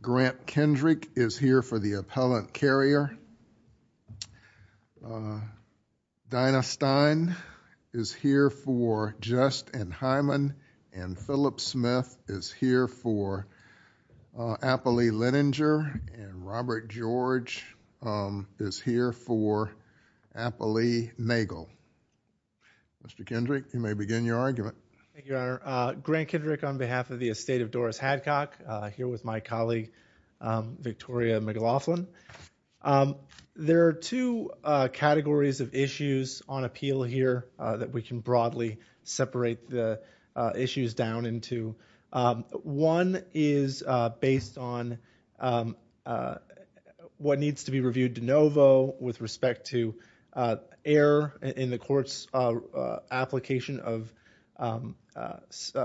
Grant Kendrick is here for the Appellant Carrier, Dinah Stein is here for Jest and Hyman, and Appley Leninger and Robert George is here for Appley-Magle. Mr. Kendrick, you may begin your argument. Thank you, Your Honor. Grant Kendrick on behalf of the estate of Doris Hadcock here with my colleague Victoria McLaughlin. There are two categories of issues on appeal here that we can broadly separate the issues down into. One is based on what needs to be reviewed de novo with respect to error in the court's application of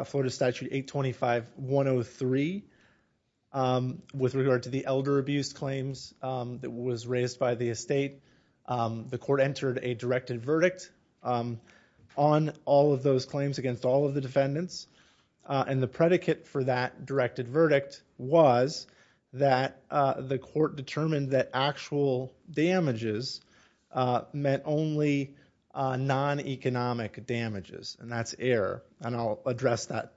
Florida Statute 825-103 with regard to the elder abuse claims that was raised by the estate. The court entered a directed verdict on all of those claims against all of the defendants, and the predicate for that directed verdict was that the court determined that actual damages meant only non-economic damages, and that's error, and I'll address that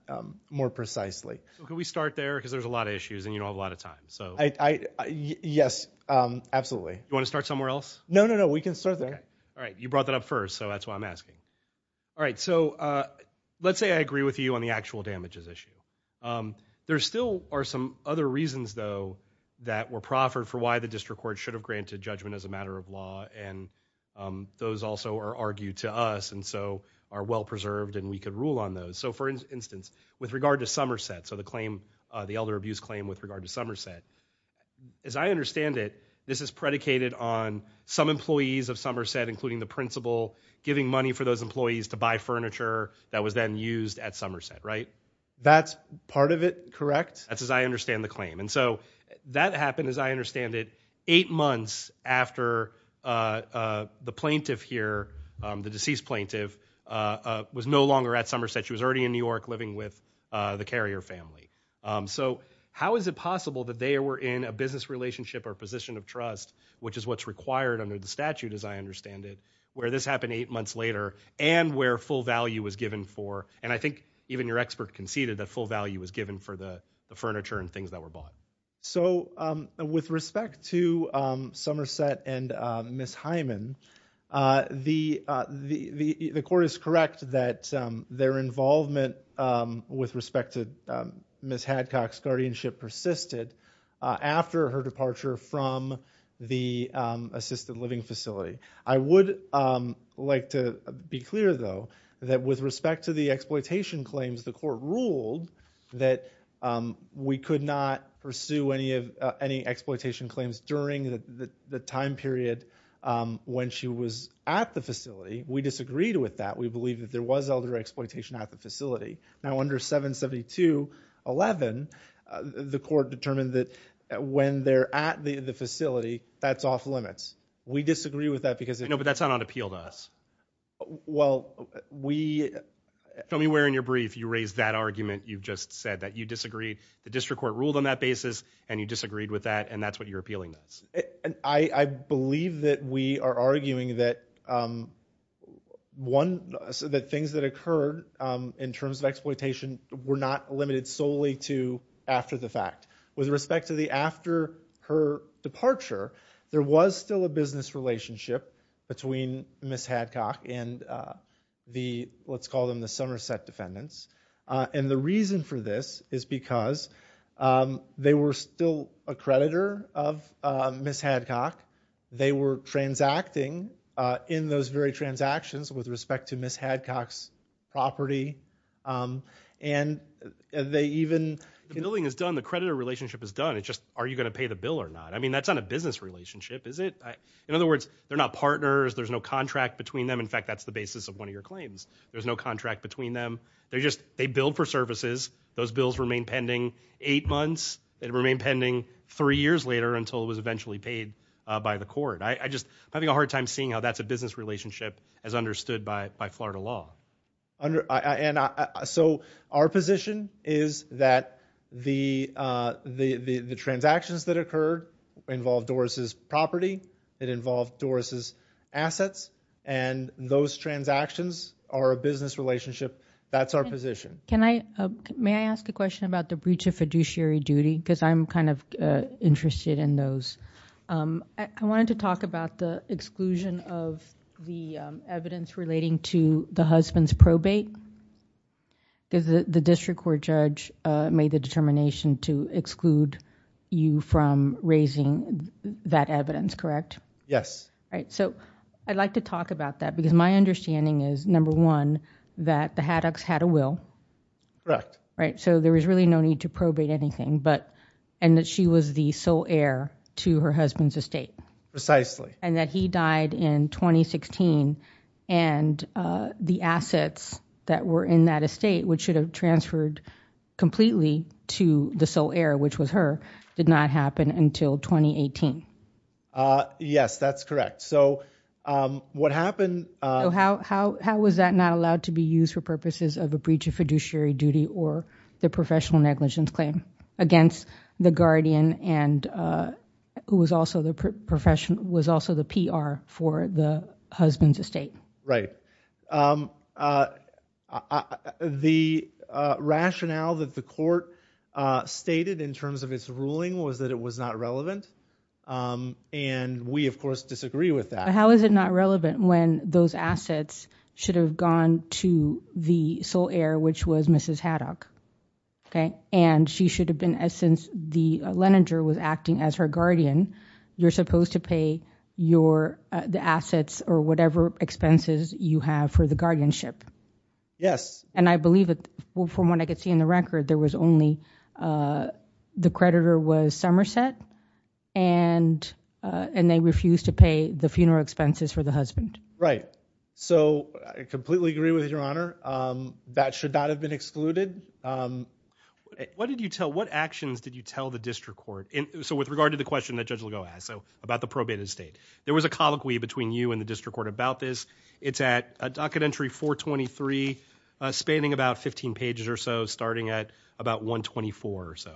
more precisely. Can we start there, because there's a lot of issues and you don't have a lot of time. Yes, absolutely. You want to start somewhere else? No, no, no, we can start there. All right, you brought that up first, so that's why I'm asking. All right, so let's say I agree with you on the actual damages issue. There still are some other reasons, though, that were proffered for why the district court should have granted judgment as a matter of law, and those also are argued to us and so are well preserved and we could rule on those. So, for instance, with regard to Somerset, so the claim, the elder abuse claim with regard to Somerset, as I understand it, this is predicated on some employees of Somerset, including the principal, giving money for those employees to buy furniture that was then used at Somerset, right? That's part of it, correct? That's as I understand the claim, and so that happened, as I understand it, eight months after the plaintiff here, the deceased plaintiff, was no longer at Somerset. She was already in New York living with the Carrier family. So, how is it possible that they were in a business relationship or position of trust, which is what's required under the statute, as I understand it, where this happened eight months later and where full value was given for, and I think even your expert conceded that full value was given for the furniture and things that were bought. So, with respect to Somerset and Ms. Hyman, the court is correct that their involvement with respect to Ms. Hadcock's guardianship persisted after her departure from the assisted living facility. I would like to be clear, though, that with respect to the exploitation claims, the court ruled that we could not pursue any exploitation claims during the time period when she was at the facility. We disagreed with that. We believe that there was elder exploitation at the facility. Now, under 772.11, the court determined that when they're at the facility, that's off-limits. We disagree with that because... No, but that's not on appeal to us. Well, we... Tell me where in your brief you raised that argument. You've just said that you disagreed. The district court ruled on that basis and you disagreed with that and that's what you're appealing to us. I believe that we are arguing that, one, that things that occurred in terms of exploitation were not limited solely to after the fact. With respect to the after her departure, there was still a business relationship between Ms. Hadcock and the, let's call them the Somerset defendants, and the reason for this is because they were still a creditor of Ms. Hadcock. They were transacting in those very transactions with respect to Ms. Hadcock's property and they even... The billing is done. The creditor relationship is done. It's just, are you gonna pay the bill or not? I mean, that's not a business relationship, is it? In other words, they're not partners. There's no contract between them. In fact, that's the basis of one of your claims. There's no contract between them. They're just, they billed for services. Those bills remain pending eight months. They remain pending three years later until it was eventually paid by the court. I just, I'm having a hard time seeing how that's a business relationship as understood by Florida law. So our position is that the transactions that occurred involved Doris's property, it involved Doris's assets, and those transactions are a business relationship. That's our position. Can I, may I ask a question about the breach of fiduciary duty? Because I'm kind of interested in those. I wanted to talk about the exclusion of the evidence relating to the husband's probate. The district court judge made the determination to exclude you from raising that evidence, correct? Yes. All number one, that the Haddox had a will. Correct. Right, so there was really no need to probate anything, but, and that she was the sole heir to her husband's estate. Precisely. And that he died in 2016, and the assets that were in that estate, which should have transferred completely to the sole heir, which was that not allowed to be used for purposes of a breach of fiduciary duty or the professional negligence claim against the guardian, and who was also the professional, was also the PR for the husband's estate? Right. The rationale that the court stated in terms of its ruling was that it was not relevant, and we of course disagree with that. How is it not relevant when those assets should have gone to the sole heir, which was Mrs. Haddox, okay? And she should have been, since the Leninger was acting as her guardian, you're supposed to pay your, the assets or whatever expenses you have for the guardianship. Yes. And I believe that from what I could see in the record, there was only, the creditor was Somerset, and they refused to pay the funeral expenses for the husband. Right. So I completely agree with your honor. That should not have been excluded. What did you tell, what actions did you tell the district court? So with regard to the question that Judge Legault asked, so about the probated estate, there was a colloquy between you and the district court about this. It's at a docket entry 423, spanning about 15 pages or so, starting at about 124 or so.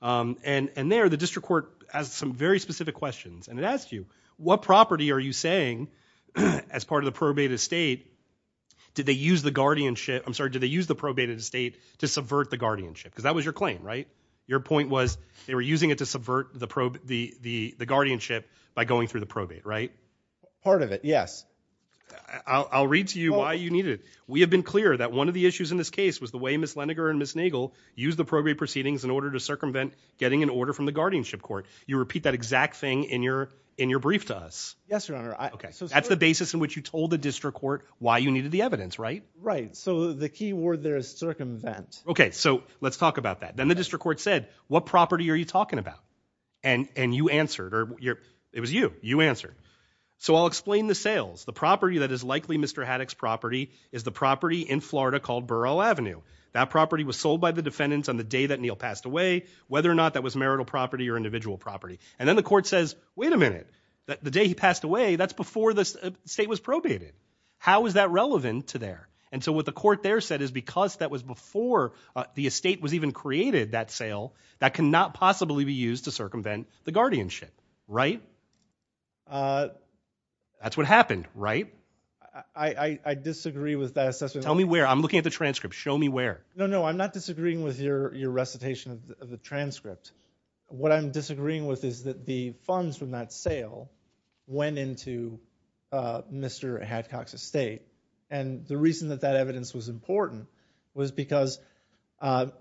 And there, the district court has some very specific questions, and it asked you, what property are you saying, as part of the probated estate, did they use the guardianship, I'm sorry, did they use the probated estate to subvert the guardianship? Because that was your claim, right? Your point was they were using it to subvert the probate, the guardianship by going through the probate, right? Part of it, yes. I'll read to you why you need it. We have been clear that one of the issues in this case was the way Miss Leninger and Miss Nagel used the probate proceedings in order to circumvent getting an order from the guardianship court. You repeat that exact thing in your brief to us. Yes, your honor. That's the basis in which you told the district court why you needed the evidence, right? Right, so the key word there is circumvent. Okay, so let's talk about that. Then the district court said, what property are you talking about? And you answered, or it was you, you answered. So I'll explain the sales. The property that is likely Mr. Haddock's property is the property in Florida called Burrell Avenue. That property was sold by the defendants on the day that individual property. And then the court says, wait a minute, the day he passed away, that's before the state was probated. How is that relevant to there? And so what the court there said is because that was before the estate was even created, that sale, that cannot possibly be used to circumvent the guardianship, right? That's what happened, right? I disagree with that assessment. Tell me where. I'm looking at the transcript. Show me where. No, no, I'm not disagreeing with is that the funds from that sale went into Mr. Haddock's estate. And the reason that that evidence was important was because the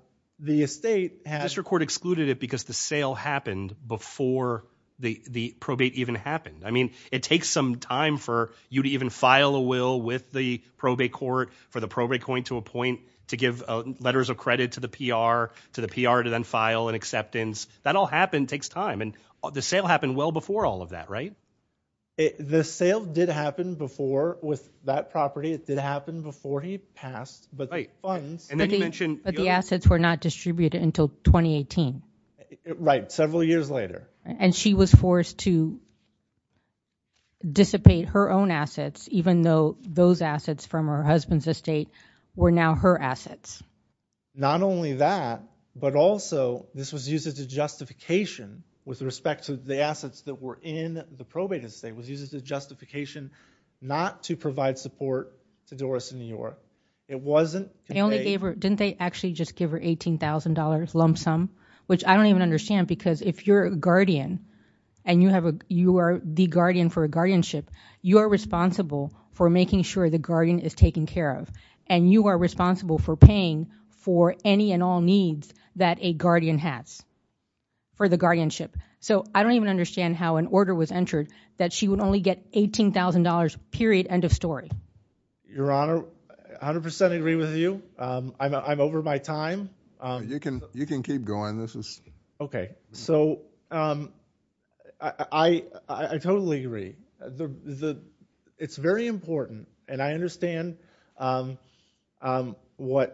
estate had... District court excluded it because the sale happened before the the probate even happened. I mean, it takes some time for you to even file a will with the probate court for the probate going to a point to give letters of credit to the It takes time. And the sale happened well before all of that, right? The sale did happen before with that property. It did happen before he passed. But the assets were not distributed until 2018. Right, several years later. And she was forced to dissipate her own assets even though those assets from her husband's estate were now her assets. Not only that, but also this was used as a justification with respect to the assets that were in the probate estate was used as a justification not to provide support to Doris in New York. It wasn't... They only gave her, didn't they actually just give her $18,000 lump sum? Which I don't even understand because if you're a guardian and you have a, you are the guardian for a guardianship, you are responsible for making sure the guardian is taken care of. And you are responsible for paying for any and all for the guardianship. So I don't even understand how an order was entered that she would only get $18,000 period, end of story. Your Honor, 100% agree with you. I'm over my time. You can keep going. This is... Okay, so I totally agree. It's very important and I understand what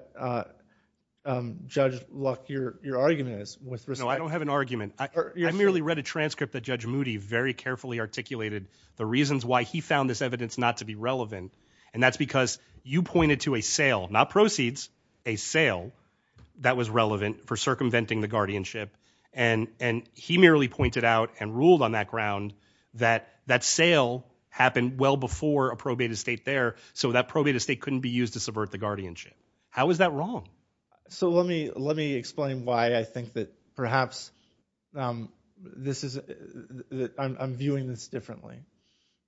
Judge Luck, your argument is with respect... No, I don't have an argument. I merely read a transcript that Judge Moody very carefully articulated the reasons why he found this evidence not to be relevant. And that's because you pointed to a sale, not proceeds, a sale that was relevant for circumventing the guardianship. And he merely pointed out and ruled on that ground that that sale happened well before a probate estate there. So that probate estate couldn't be used to subvert the guardianship. How is that different? Perhaps this is... I'm viewing this differently.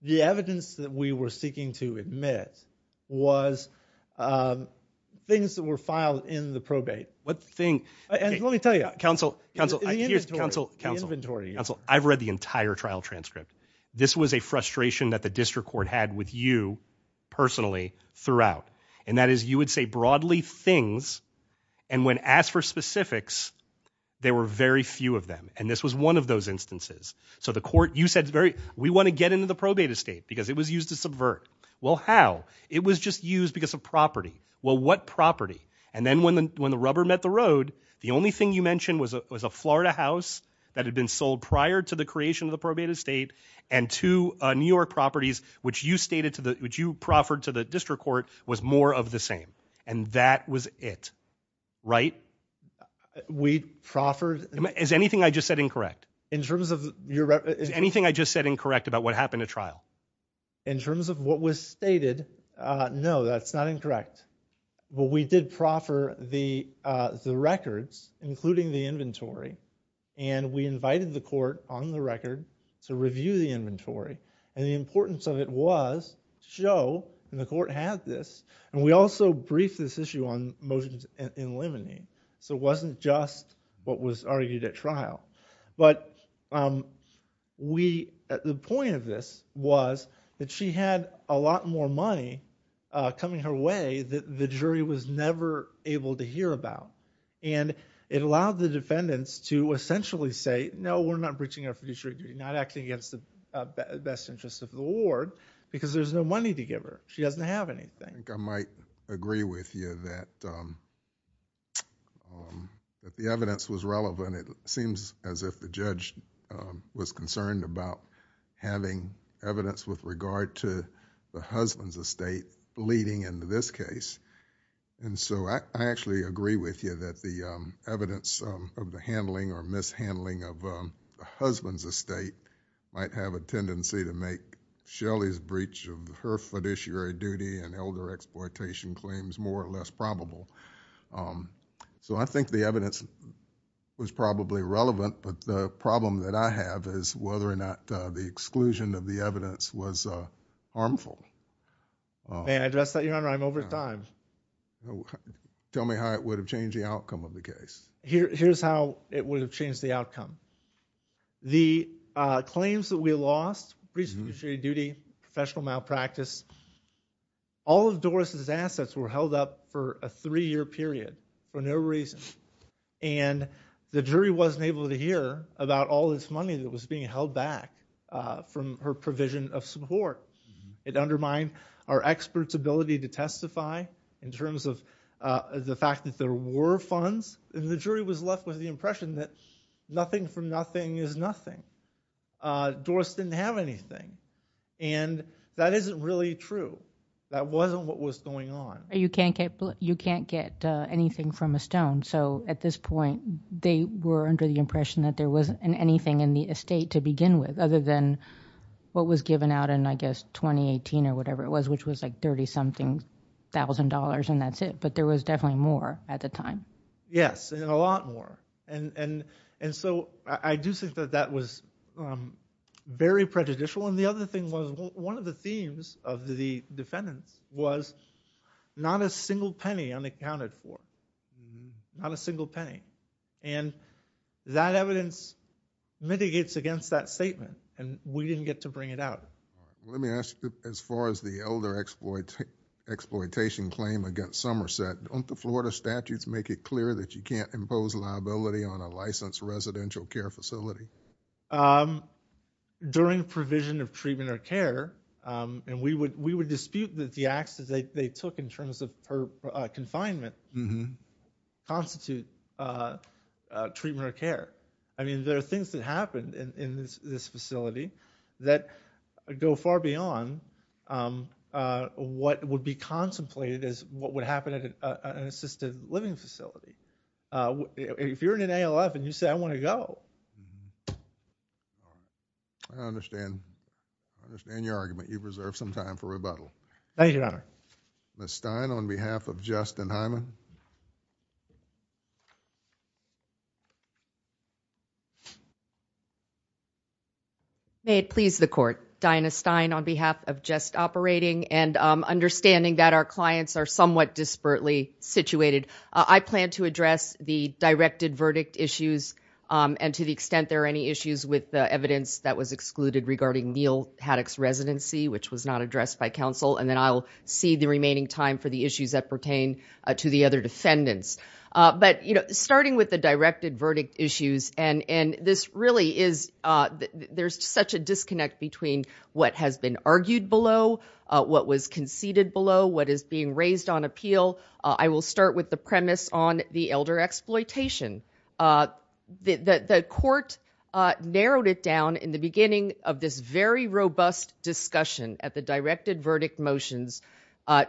The evidence that we were seeking to admit was things that were filed in the probate. What thing? And let me tell you... Counsel, counsel, counsel, counsel, counsel, counsel. I've read the entire trial transcript. This was a frustration that the district court had with you personally throughout. And that is you would say broadly things and when asked for specifics, there were very few of them. And this was one of those instances. So the court, you said, we want to get into the probate estate because it was used to subvert. Well, how? It was just used because of property. Well, what property? And then when the rubber met the road, the only thing you mentioned was a Florida house that had been sold prior to the creation of the probate estate and two New York properties, which you stated to the, which you proffered to the district court, was more of the same. And that was it, right? We proffered... Is anything I just said incorrect? In terms of your... Is anything I just said incorrect about what happened at trial? In terms of what was stated, no, that's not incorrect. But we did proffer the records, including the inventory, and we invited the court on the record to review the inventory. And the importance of it was, Joe, and the court had this, and we also briefed this issue on motions in limine. So it wasn't just what was argued at trial. But we, the point of this was that she had a lot more money coming her way that the jury was never able to hear about. And it allowed the defendants to essentially say, no, we're not breaching our fiduciary duty, not acting against the best interest of the ward because there's no money to give her. She doesn't have anything. I think I might agree with you that if the evidence was relevant, it seems as if the judge was concerned about having evidence with regard to the husband's estate leading into this case. And so, I actually agree with you that the evidence of the handling or mishandling of the husband's estate might have a more or less probable. So I think the evidence was probably relevant, but the problem that I have is whether or not the exclusion of the evidence was harmful. May I address that, Your Honor? I'm over time. Tell me how it would have changed the outcome of the case. Here's how it would have changed the outcome. The claims that we lost, breaching fiduciary duty, professional malpractice, all of Doris' assets were held up for a three-year period for no reason. And the jury wasn't able to hear about all this money that was being held back from her provision of support. It undermined our expert's ability to testify in terms of the fact that there were funds. And the jury was left with the impression that nothing from nothing is nothing. Doris didn't have anything. And that isn't really true. That wasn't what was going on. You can't get anything from a stone. So at this point, they were under the impression that there wasn't anything in the estate to begin with, other than what was given out in, I guess, 2018 or whatever it was, which was like thirty-something thousand dollars and that's it. But there was definitely more at the time. Yes, and a lot more. And so, I do think that that was very prejudicial. And the other thing was, one of the themes of the defendants was, not a single penny unaccounted for. Not a single penny. And that evidence mitigates against that statement and we didn't get to bring it out. Let me ask you, as far as the elder exploitation claim against Somerset, don't the Florida statutes make it clear that you can't impose liability on a licensed residential care facility? During provision of treatment or care, and we would dispute that the acts that they took in terms of her confinement constitute treatment or care. I mean, there are things that happened in this facility that go far beyond what would be contemplated as what would happen at an assisted-living facility. If you're in an ALF and you say, I want to go. I understand. I understand your argument. You've reserved some time for rebuttal. Thank you, Your Honor. Ms. Stein, on behalf of Just and Hyman. May it please the court, Diana Stein, on behalf of Just Operating and understanding that our clients are somewhat disparately situated. I plan to address the directed verdict issues and to the extent there are any issues with the evidence that was excluded regarding Neal Haddock's residency, which was not addressed by counsel, and then I'll see the remaining time for the issues that pertain to the other defendants. But, you know, starting with the directed verdict issues, and this really is, there's such a disconnect between what has been conceded below, what is being raised on appeal. I will start with the premise on the elder exploitation. The court narrowed it down in the beginning of this very robust discussion at the directed verdict motions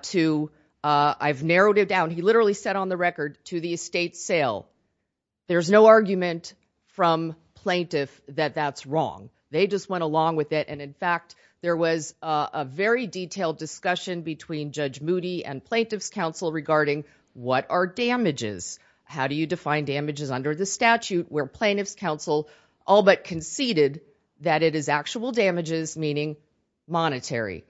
to, I've narrowed it down, he literally said on the record, to the estate sale. There's no argument from plaintiff that that's wrong. They just went along with it, and in fact, there was a very detailed discussion between Judge Moody and plaintiff's counsel regarding what are damages, how do you define damages under the statute, where plaintiff's counsel all but conceded that it is actual damages, meaning monetary.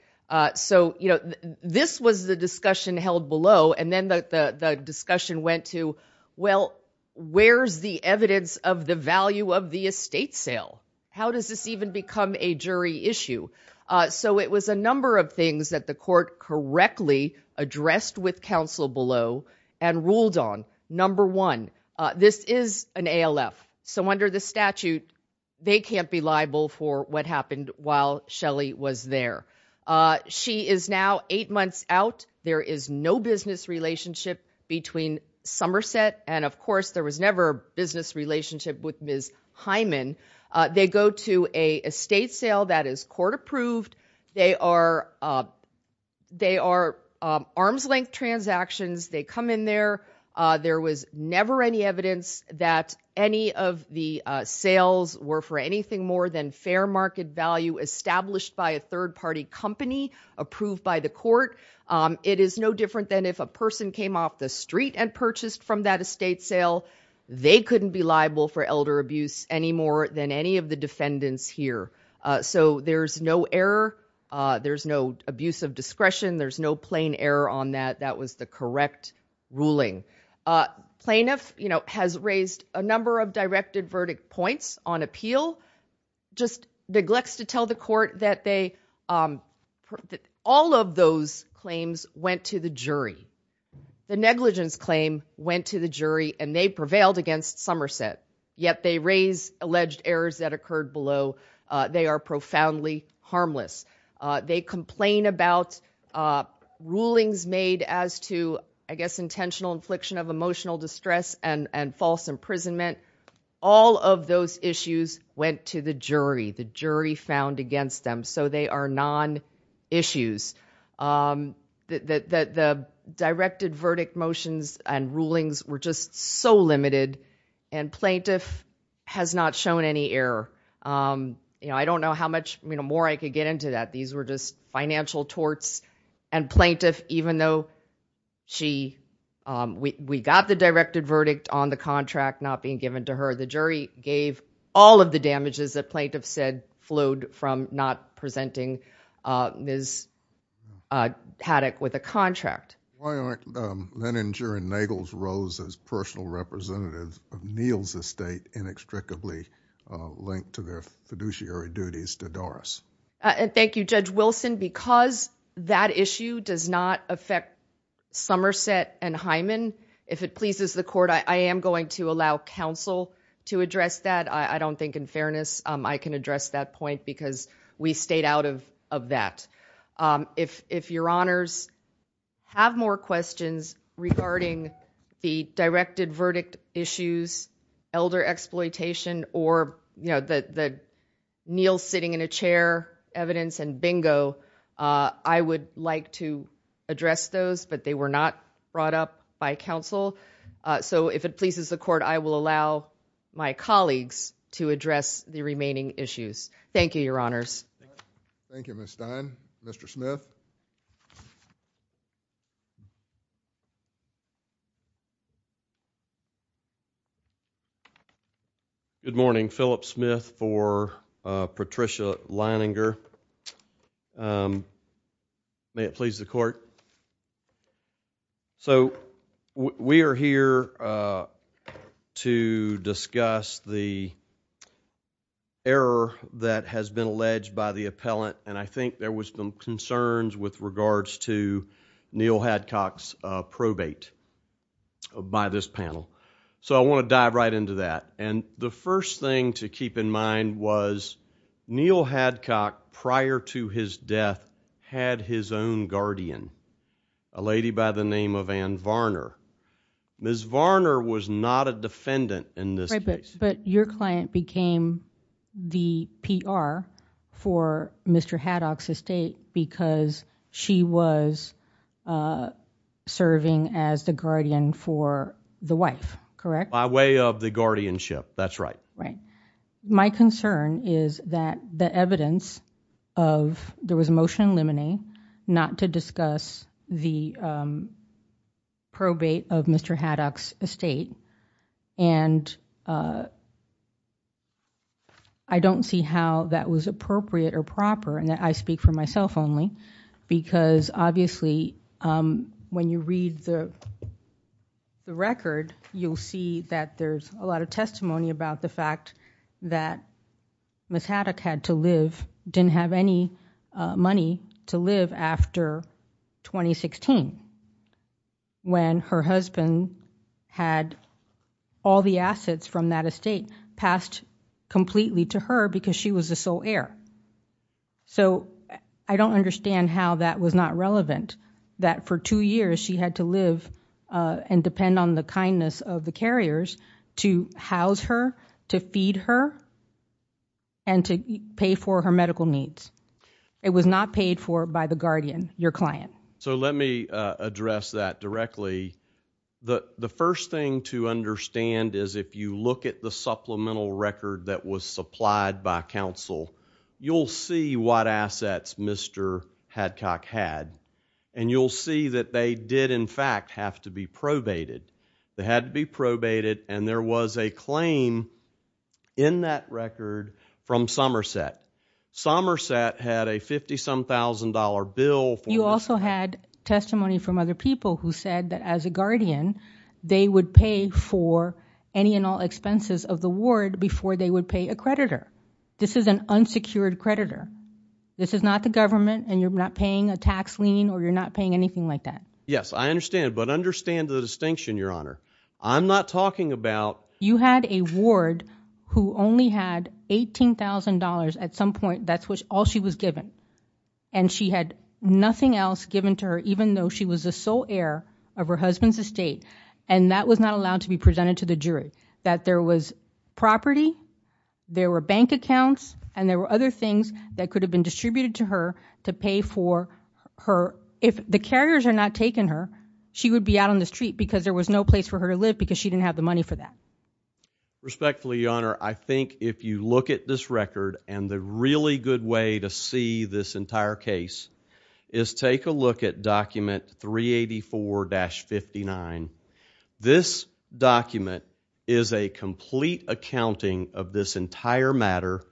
So, you know, this was the discussion held below, and then the discussion went to, well, where's the evidence of the value of the issue? So it was a number of things that the court correctly addressed with counsel below and ruled on. Number one, this is an ALF, so under the statute, they can't be liable for what happened while Shelley was there. She is now eight months out. There is no business relationship between Somerset and, of course, there was never a business relationship with Ms. Hyman. They go to a estate sale that is court-approved. They are arm's-length transactions. They come in there. There was never any evidence that any of the sales were for anything more than fair market value established by a third party company approved by the court. It is no different than if a person came off the street and purchased from that estate sale. They couldn't be liable for elder defendants here. So there's no error. There's no abuse of discretion. There's no plain error on that. That was the correct ruling. Plaintiff, you know, has raised a number of directed verdict points on appeal, just neglects to tell the court that all of those claims went to the jury. The negligence claim went to the jury, and they prevailed against Somerset, yet they raise alleged errors that occurred below. They are profoundly harmless. They complain about rulings made as to, I guess, intentional infliction of emotional distress and false imprisonment. All of those issues went to the jury. The jury found against them, so they are non-issues. The directed verdict motions and rulings were just so limited, and plaintiff has not shown any error. You know, I don't know how much, you know, more I could get into that. These were just financial torts, and plaintiff, even though she, we got the directed verdict on the contract not being given to her, the jury gave all of the damages that plaintiff said flowed from not presenting Ms. Haddock with a contract. Why aren't Leninger and Nagles Rose as personal representatives of Neal's estate inextricably linked to their fiduciary duties to Doris? Thank you, Judge Wilson. Because that issue does not affect Somerset and Hyman, if it pleases the court, I am going to allow counsel to address that. I don't think in we stayed out of that. If your honors have more questions regarding the directed verdict issues, elder exploitation, or, you know, the Neal sitting in a chair evidence and bingo, I would like to address those, but they were not brought up by counsel. So if it pleases the court, I will allow my honors. Thank you, Ms. Stein. Mr. Smith. Good morning. Philip Smith for Patricia Leninger. May it please the court. So we are here to discuss the error that has been alleged by the appellant, and I think there was some concerns with regards to Neal Hadcock's probate by this panel. So I want to dive right into that, and the first thing to keep in mind was Neal Hadcock, prior to his death, had his own guardian, a lady by the name of Ann Varner. Ms. Varner was not a defendant in this case. But your client became the PR for Mr. Haddock's estate because she was serving as the guardian for the wife, correct? By way of the guardianship, that's right. Right. My concern is that the probate of Mr. Haddock's estate, and I don't see how that was appropriate or proper, and I speak for myself only, because obviously when you read the record, you'll see that there's a lot of testimony about the fact that Ms. Haddock had to live, didn't have any money to live after 2016, when her husband had all the assets from that estate passed completely to her because she was the sole heir. So I don't understand how that was not relevant, that for two years she had to live and depend on the kindness of the carriers to house her, to feed her, and to pay for her medical needs. It was not paid for by the guardian, your client. So let me address that directly. The first thing to understand is if you look at the supplemental record that was supplied by counsel, you'll see what assets Mr. Haddock had, and you'll see that they did in fact have to be record from Somerset. Somerset had a $50-some-thousand bill. You also had testimony from other people who said that as a guardian they would pay for any and all expenses of the ward before they would pay a creditor. This is an unsecured creditor. This is not the government and you're not paying a tax lien or you're not paying anything like that. Yes, I understand, but understand the $18,000 at some point, that's all she was given, and she had nothing else given to her even though she was a sole heir of her husband's estate, and that was not allowed to be presented to the jury. That there was property, there were bank accounts, and there were other things that could have been distributed to her to pay for her. If the carriers had not taken her, she would be out on the street because there was no place for her to live because she look at this record and the really good way to see this entire case is take a look at document 384-59. This document is a complete accounting of this entire matter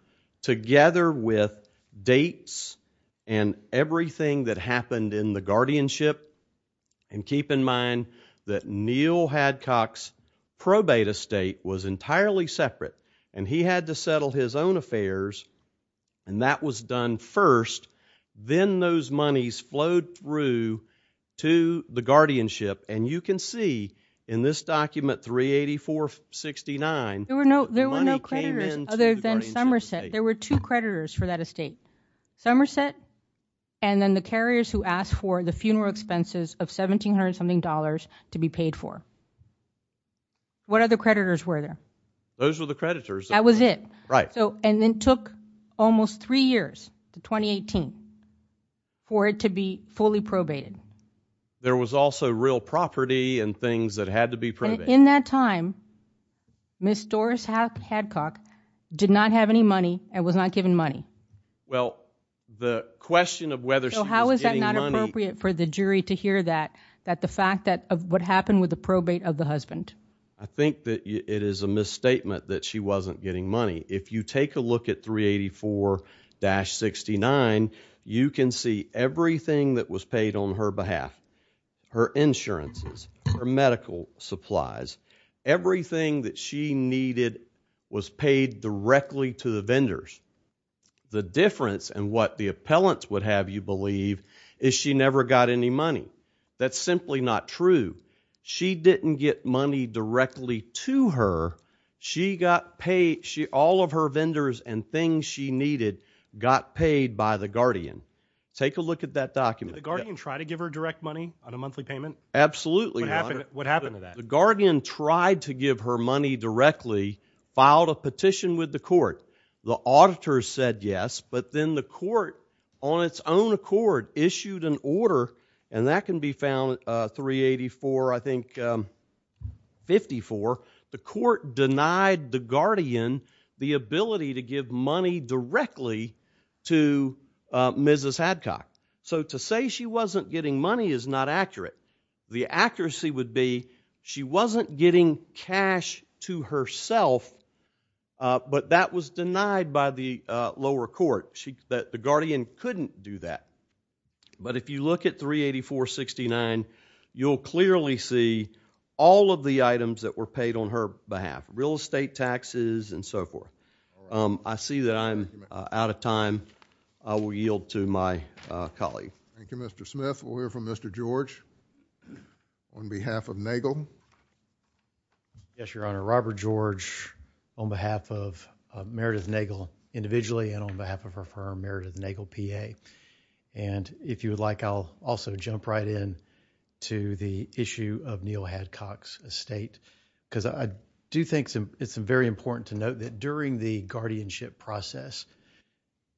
together with dates and everything that happened in the guardianship, and keep in mind that Neil Hadcock's probate estate was entirely separate, and he had to settle his own affairs, and that was done first. Then those monies flowed through to the guardianship, and you can see in this document 384-69, there were no creditors other than Somerset. There were two creditors for that estate, Somerset and then the carriers who asked for the funeral expenses of $1,700 something dollars to be paid for. What other creditors? Those were the creditors. That was it. Right. And then took almost three years to 2018 for it to be fully probated. There was also real property and things that had to be probated. In that time, Ms. Doris Hadcock did not have any money and was not given money. Well, the question of whether she was getting money... So how is that not appropriate for the jury to hear that, that the fact that of what happened with that she wasn't getting money? If you take a look at 384-69, you can see everything that was paid on her behalf. Her insurances, her medical supplies, everything that she needed was paid directly to the vendors. The difference and what the appellants would have you believe is she never got any money. That's simply not true. She didn't get money directly to her. She got paid, all of her vendors and things she needed got paid by the Guardian. Take a look at that document. Did the Guardian try to give her direct money on a monthly payment? Absolutely not. What happened to that? The Guardian tried to give her money directly, filed a petition with the court. The auditors said yes, but then the court on its own accord issued an order, and that can be found at 384, I think, 54, the court denied the Guardian the ability to give money directly to Mrs. Hadcock. So to say she wasn't getting money is not accurate. The accuracy would be she wasn't getting cash to herself, but that was denied by the lower court. The Guardian couldn't do that, but if you look at 384, 69, you'll clearly see all of the items that were paid on her behalf. Real estate taxes and so forth. I see that I'm out of time. I will yield to my colleague. Thank you, Mr. Smith. We'll hear from Mr. George on behalf of Nagel. Yes, Your Honor. Robert George on behalf of our Meredith Nagel, PA. If you would like, I'll also jump right in to the issue of Neal Hadcock's estate, because I do think it's very important to note that during the guardianship process,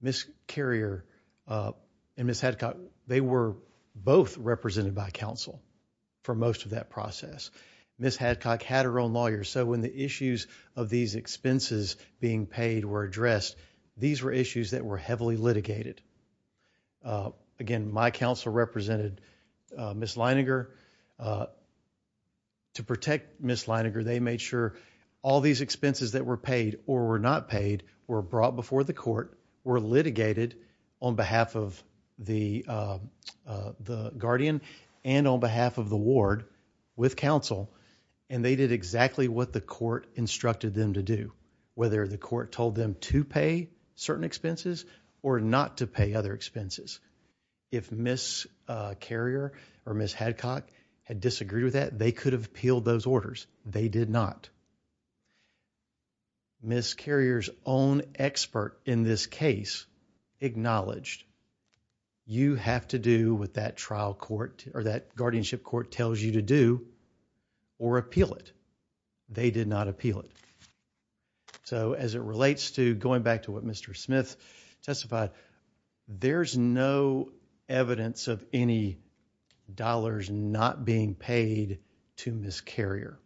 Ms. Carrier and Ms. Hadcock, they were both represented by counsel for most of that process. Ms. Hadcock had her own lawyer, so when the issues of these expenses being paid were addressed, these were heavily litigated. Again, my counsel represented Ms. Leininger. To protect Ms. Leininger, they made sure all these expenses that were paid or were not paid were brought before the court, were litigated on behalf of the Guardian and on behalf of the ward with counsel, and they did exactly what the court or not to pay other expenses. If Miss Carrier or Miss Hadcock had disagreed with that, they could have appealed those orders. They did not. Miss Carrier's own expert in this case acknowledged you have to do with that trial court or that guardianship court tells you to do or appeal it. They did not appeal it. So, as it relates to going back to what Mr. Smith testified, there's no evidence of any dollars not being paid to Miss Carrier.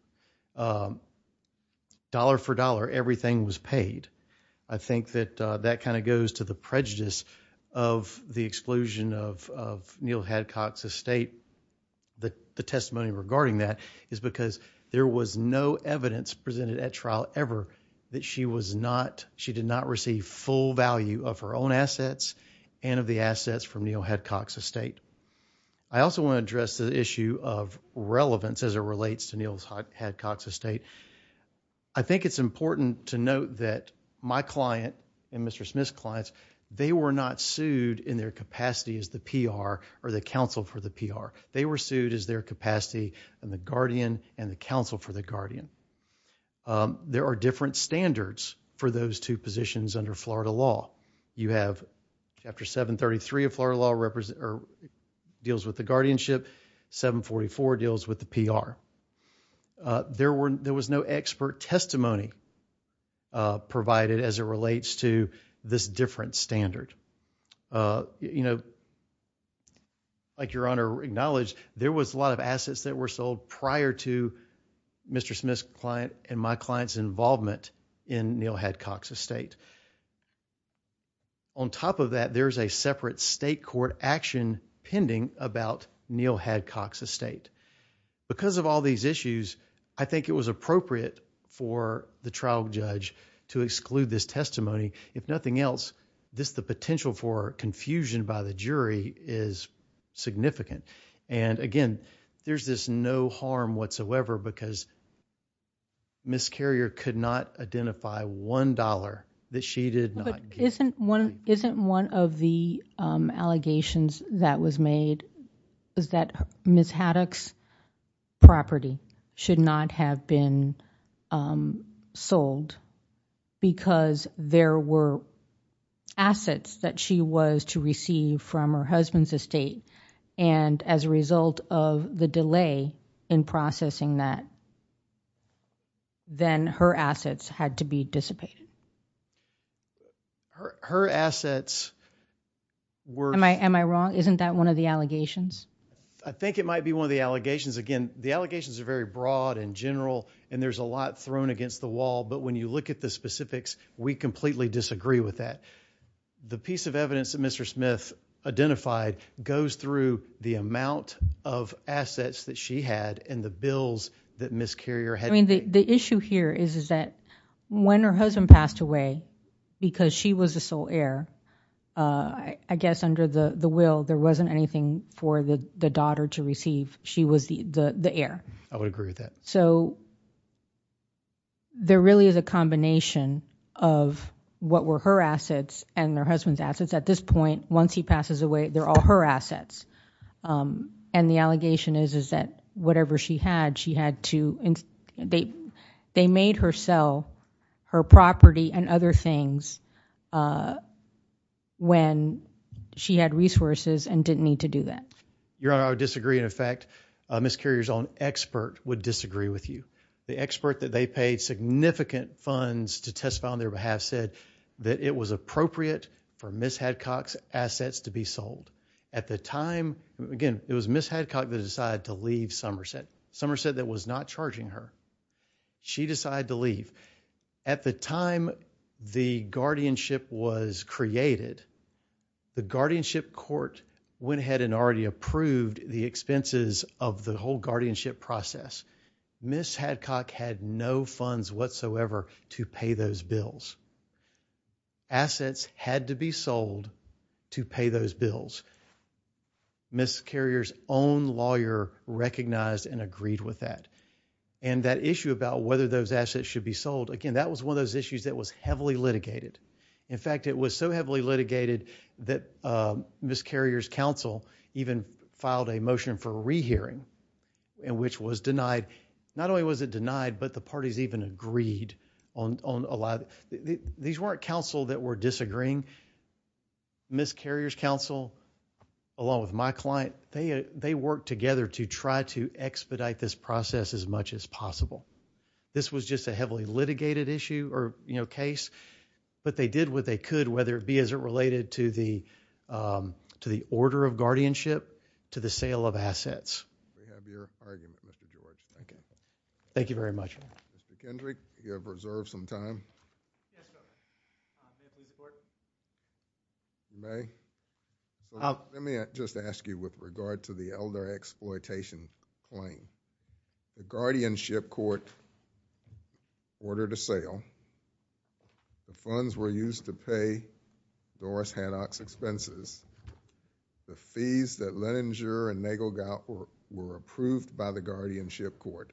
Dollar for dollar, everything was paid. I think that that kind of goes to the prejudice of the exclusion of Neil Hadcock's estate. The testimony regarding that is because there was no evidence presented at trial ever that she did not receive full value of her own assets and of the assets from Neil Hadcock's estate. I also want to address the issue of relevance as it relates to Neil's Hadcock's estate. I think it's important to note that my client and Mr. Smith's clients, they were not sued in their capacity as the PR or the counsel for the PR. They were sued as their capacity and the guardian and the counsel for the guardian. Um, there are different standards for those two positions under florida law. You have after 7 33 of florida law represent or deals with the guardianship. 7 44 deals with the PR. Uh, there were, there was no expert testimony, uh, provided as it relates to this different standard. Uh, you know, like your honor acknowledged, there was a lot of assets that were sold prior to Mr. Smith's client and my client's involvement in Neil Hadcock's estate. On top of that, there's a separate state court action pending about Neil Hadcock's estate because of all these issues. I think it was appropriate for the trial judge to exclude this testimony. If nothing else, this, the jury is significant. And again, there's this no harm whatsoever because Miss Carrier could not identify $1 that she did not. Isn't one, isn't one of the allegations that was made is that Miss Haddock's property should not have been, um, sold because there were assets that she was to receive from her husband's estate. And as a result of the delay in processing that then her assets had to be dissipated. Her assets were, am I wrong? Isn't that one of the allegations? I think it might be one of the allegations. Again, the allegations are very broad and general and there's a lot thrown against the wall. But when you look at the specifics, we completely disagree with that. The piece of evidence that Mr. Smith identified goes through the amount of assets that she had in the bills that Miss Carrier had. I mean, the issue here is, is that when her husband passed away because she was a sole heir, uh, I guess under the will, there wasn't anything for the daughter to receive. She was the heir. I would so there really is a combination of what were her assets and their husband's assets. At this point, once he passes away, they're all her assets. Um, and the allegation is, is that whatever she had, she had to, they, they made her sell her property and other things, uh, when she had resources and didn't need to do that. Your honor, I disagree. In effect, Miss Carrier's own expert would the expert that they paid significant funds to testify on their behalf said that it was appropriate for Miss Hadcox assets to be sold at the time. Again, it was Miss Hadcock that decided to leave Somerset Somerset that was not charging her. She decided to leave at the time the guardianship was created. The guardianship court went ahead and already approved the expenses of the guardianship process. Miss Hadcock had no funds whatsoever to pay those bills. Assets had to be sold to pay those bills. Miss Carrier's own lawyer recognized and agreed with that. And that issue about whether those assets should be sold again, that was one of those issues that was heavily litigated. In fact, it was so heavily litigated that Miss Carrier's counsel even filed a motion for rehearing and which was denied. Not only was it denied, but the parties even agreed on a lot. These weren't counsel that were disagreeing. Miss Carrier's counsel along with my client, they they worked together to try to expedite this process as much as possible. This was just a heavily litigated issue or case, but they did what they could, whether it be as it to the order of guardianship, to the sale of assets. Thank you very much. Mr. Kendrick, you have reserved some time? You may. Let me just ask you with regard to the elder exploitation claim. The guardianship court ordered a sale. The funds were used to pay Doris Hanock's expenses. The fees that Leninger and Nagel got were approved by the guardianship court.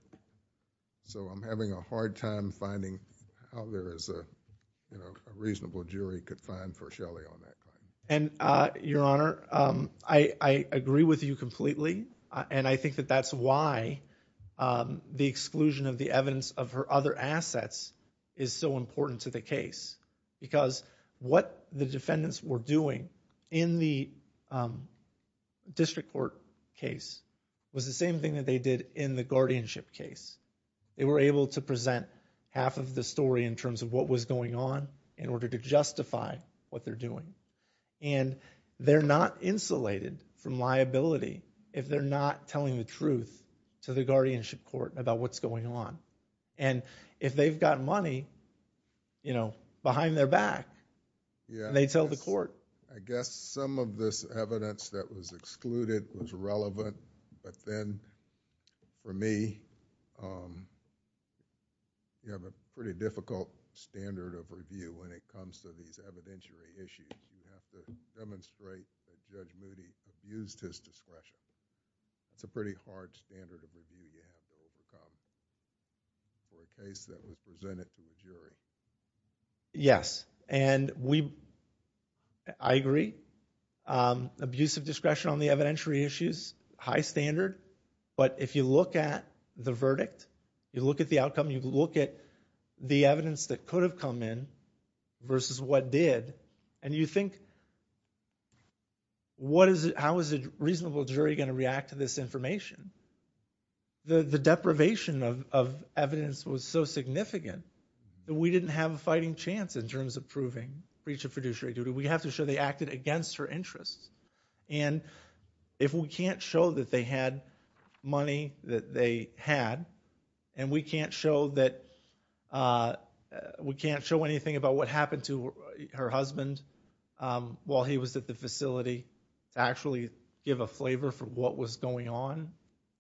So I'm having a hard time finding how there is a reasonable jury could find for Shelly on that. Your Honor, I agree with you completely and I think that that's why the is so important to the case because what the defendants were doing in the district court case was the same thing that they did in the guardianship case. They were able to present half of the story in terms of what was going on in order to justify what they're doing. And they're not insulated from liability if they're not telling the truth to the guardianship court about what's going on. And if they've got money behind their back, they tell the court. I guess some of this evidence that was excluded was relevant. But then for me, you have a pretty difficult standard of review when it comes to these evidentiary issues. You have to demonstrate that Judge Moody used his discretion. It's a pretty hard standard of review when it comes to the case that was presented to the jury. Yes. And I agree. Abusive discretion on the evidentiary issues, high standard. But if you look at the verdict, you look at the outcome, you look at the evidence that could have come in versus what did, and you think, how is a reasonable jury going to react to this information? The deprivation of evidence was so significant that we didn't have a fighting chance in terms of proving breach of fiduciary duty. We have to show they acted against her interests. And if we can't show that they had money that they had, and we can't show anything about what happened to her husband while he was at the facility to actually give a flavor for what was going on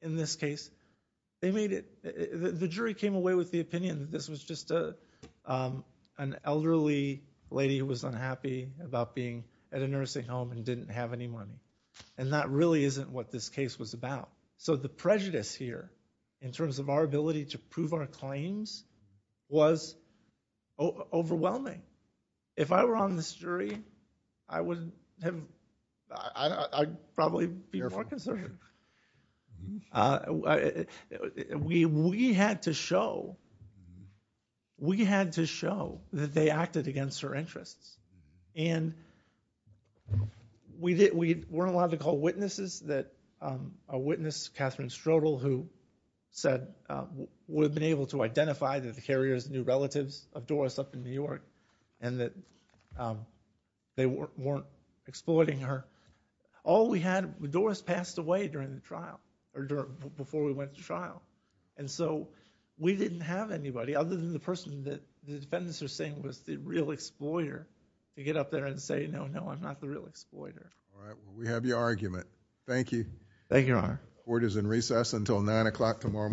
in this case, they made it, the jury came away with the opinion that this was just an elderly lady who was unhappy about being at a nursing home and didn't have any money. And that really isn't what this case was about. So the prejudice here in terms of our ability to prove our claims was overwhelming. If I were on this jury, I would have, I'd probably be more concerned. We had to show, we had to show that they acted against her interests. And we didn't, we weren't allowed to call witnesses that a witness, Catherine Strudel, who said we've been able to identify that the carrier's new relatives of Doris up in New York, and that they weren't exploiting her. All we had, Doris passed away during the trial, or before we went to trial. And so we didn't have anybody other than the person that the defendants are saying was the real exploiter to get up there and say, no, no, I'm not the real exploiter. We have your argument. Thank you. Thank you. Court is in recess until 9 o'clock tomorrow.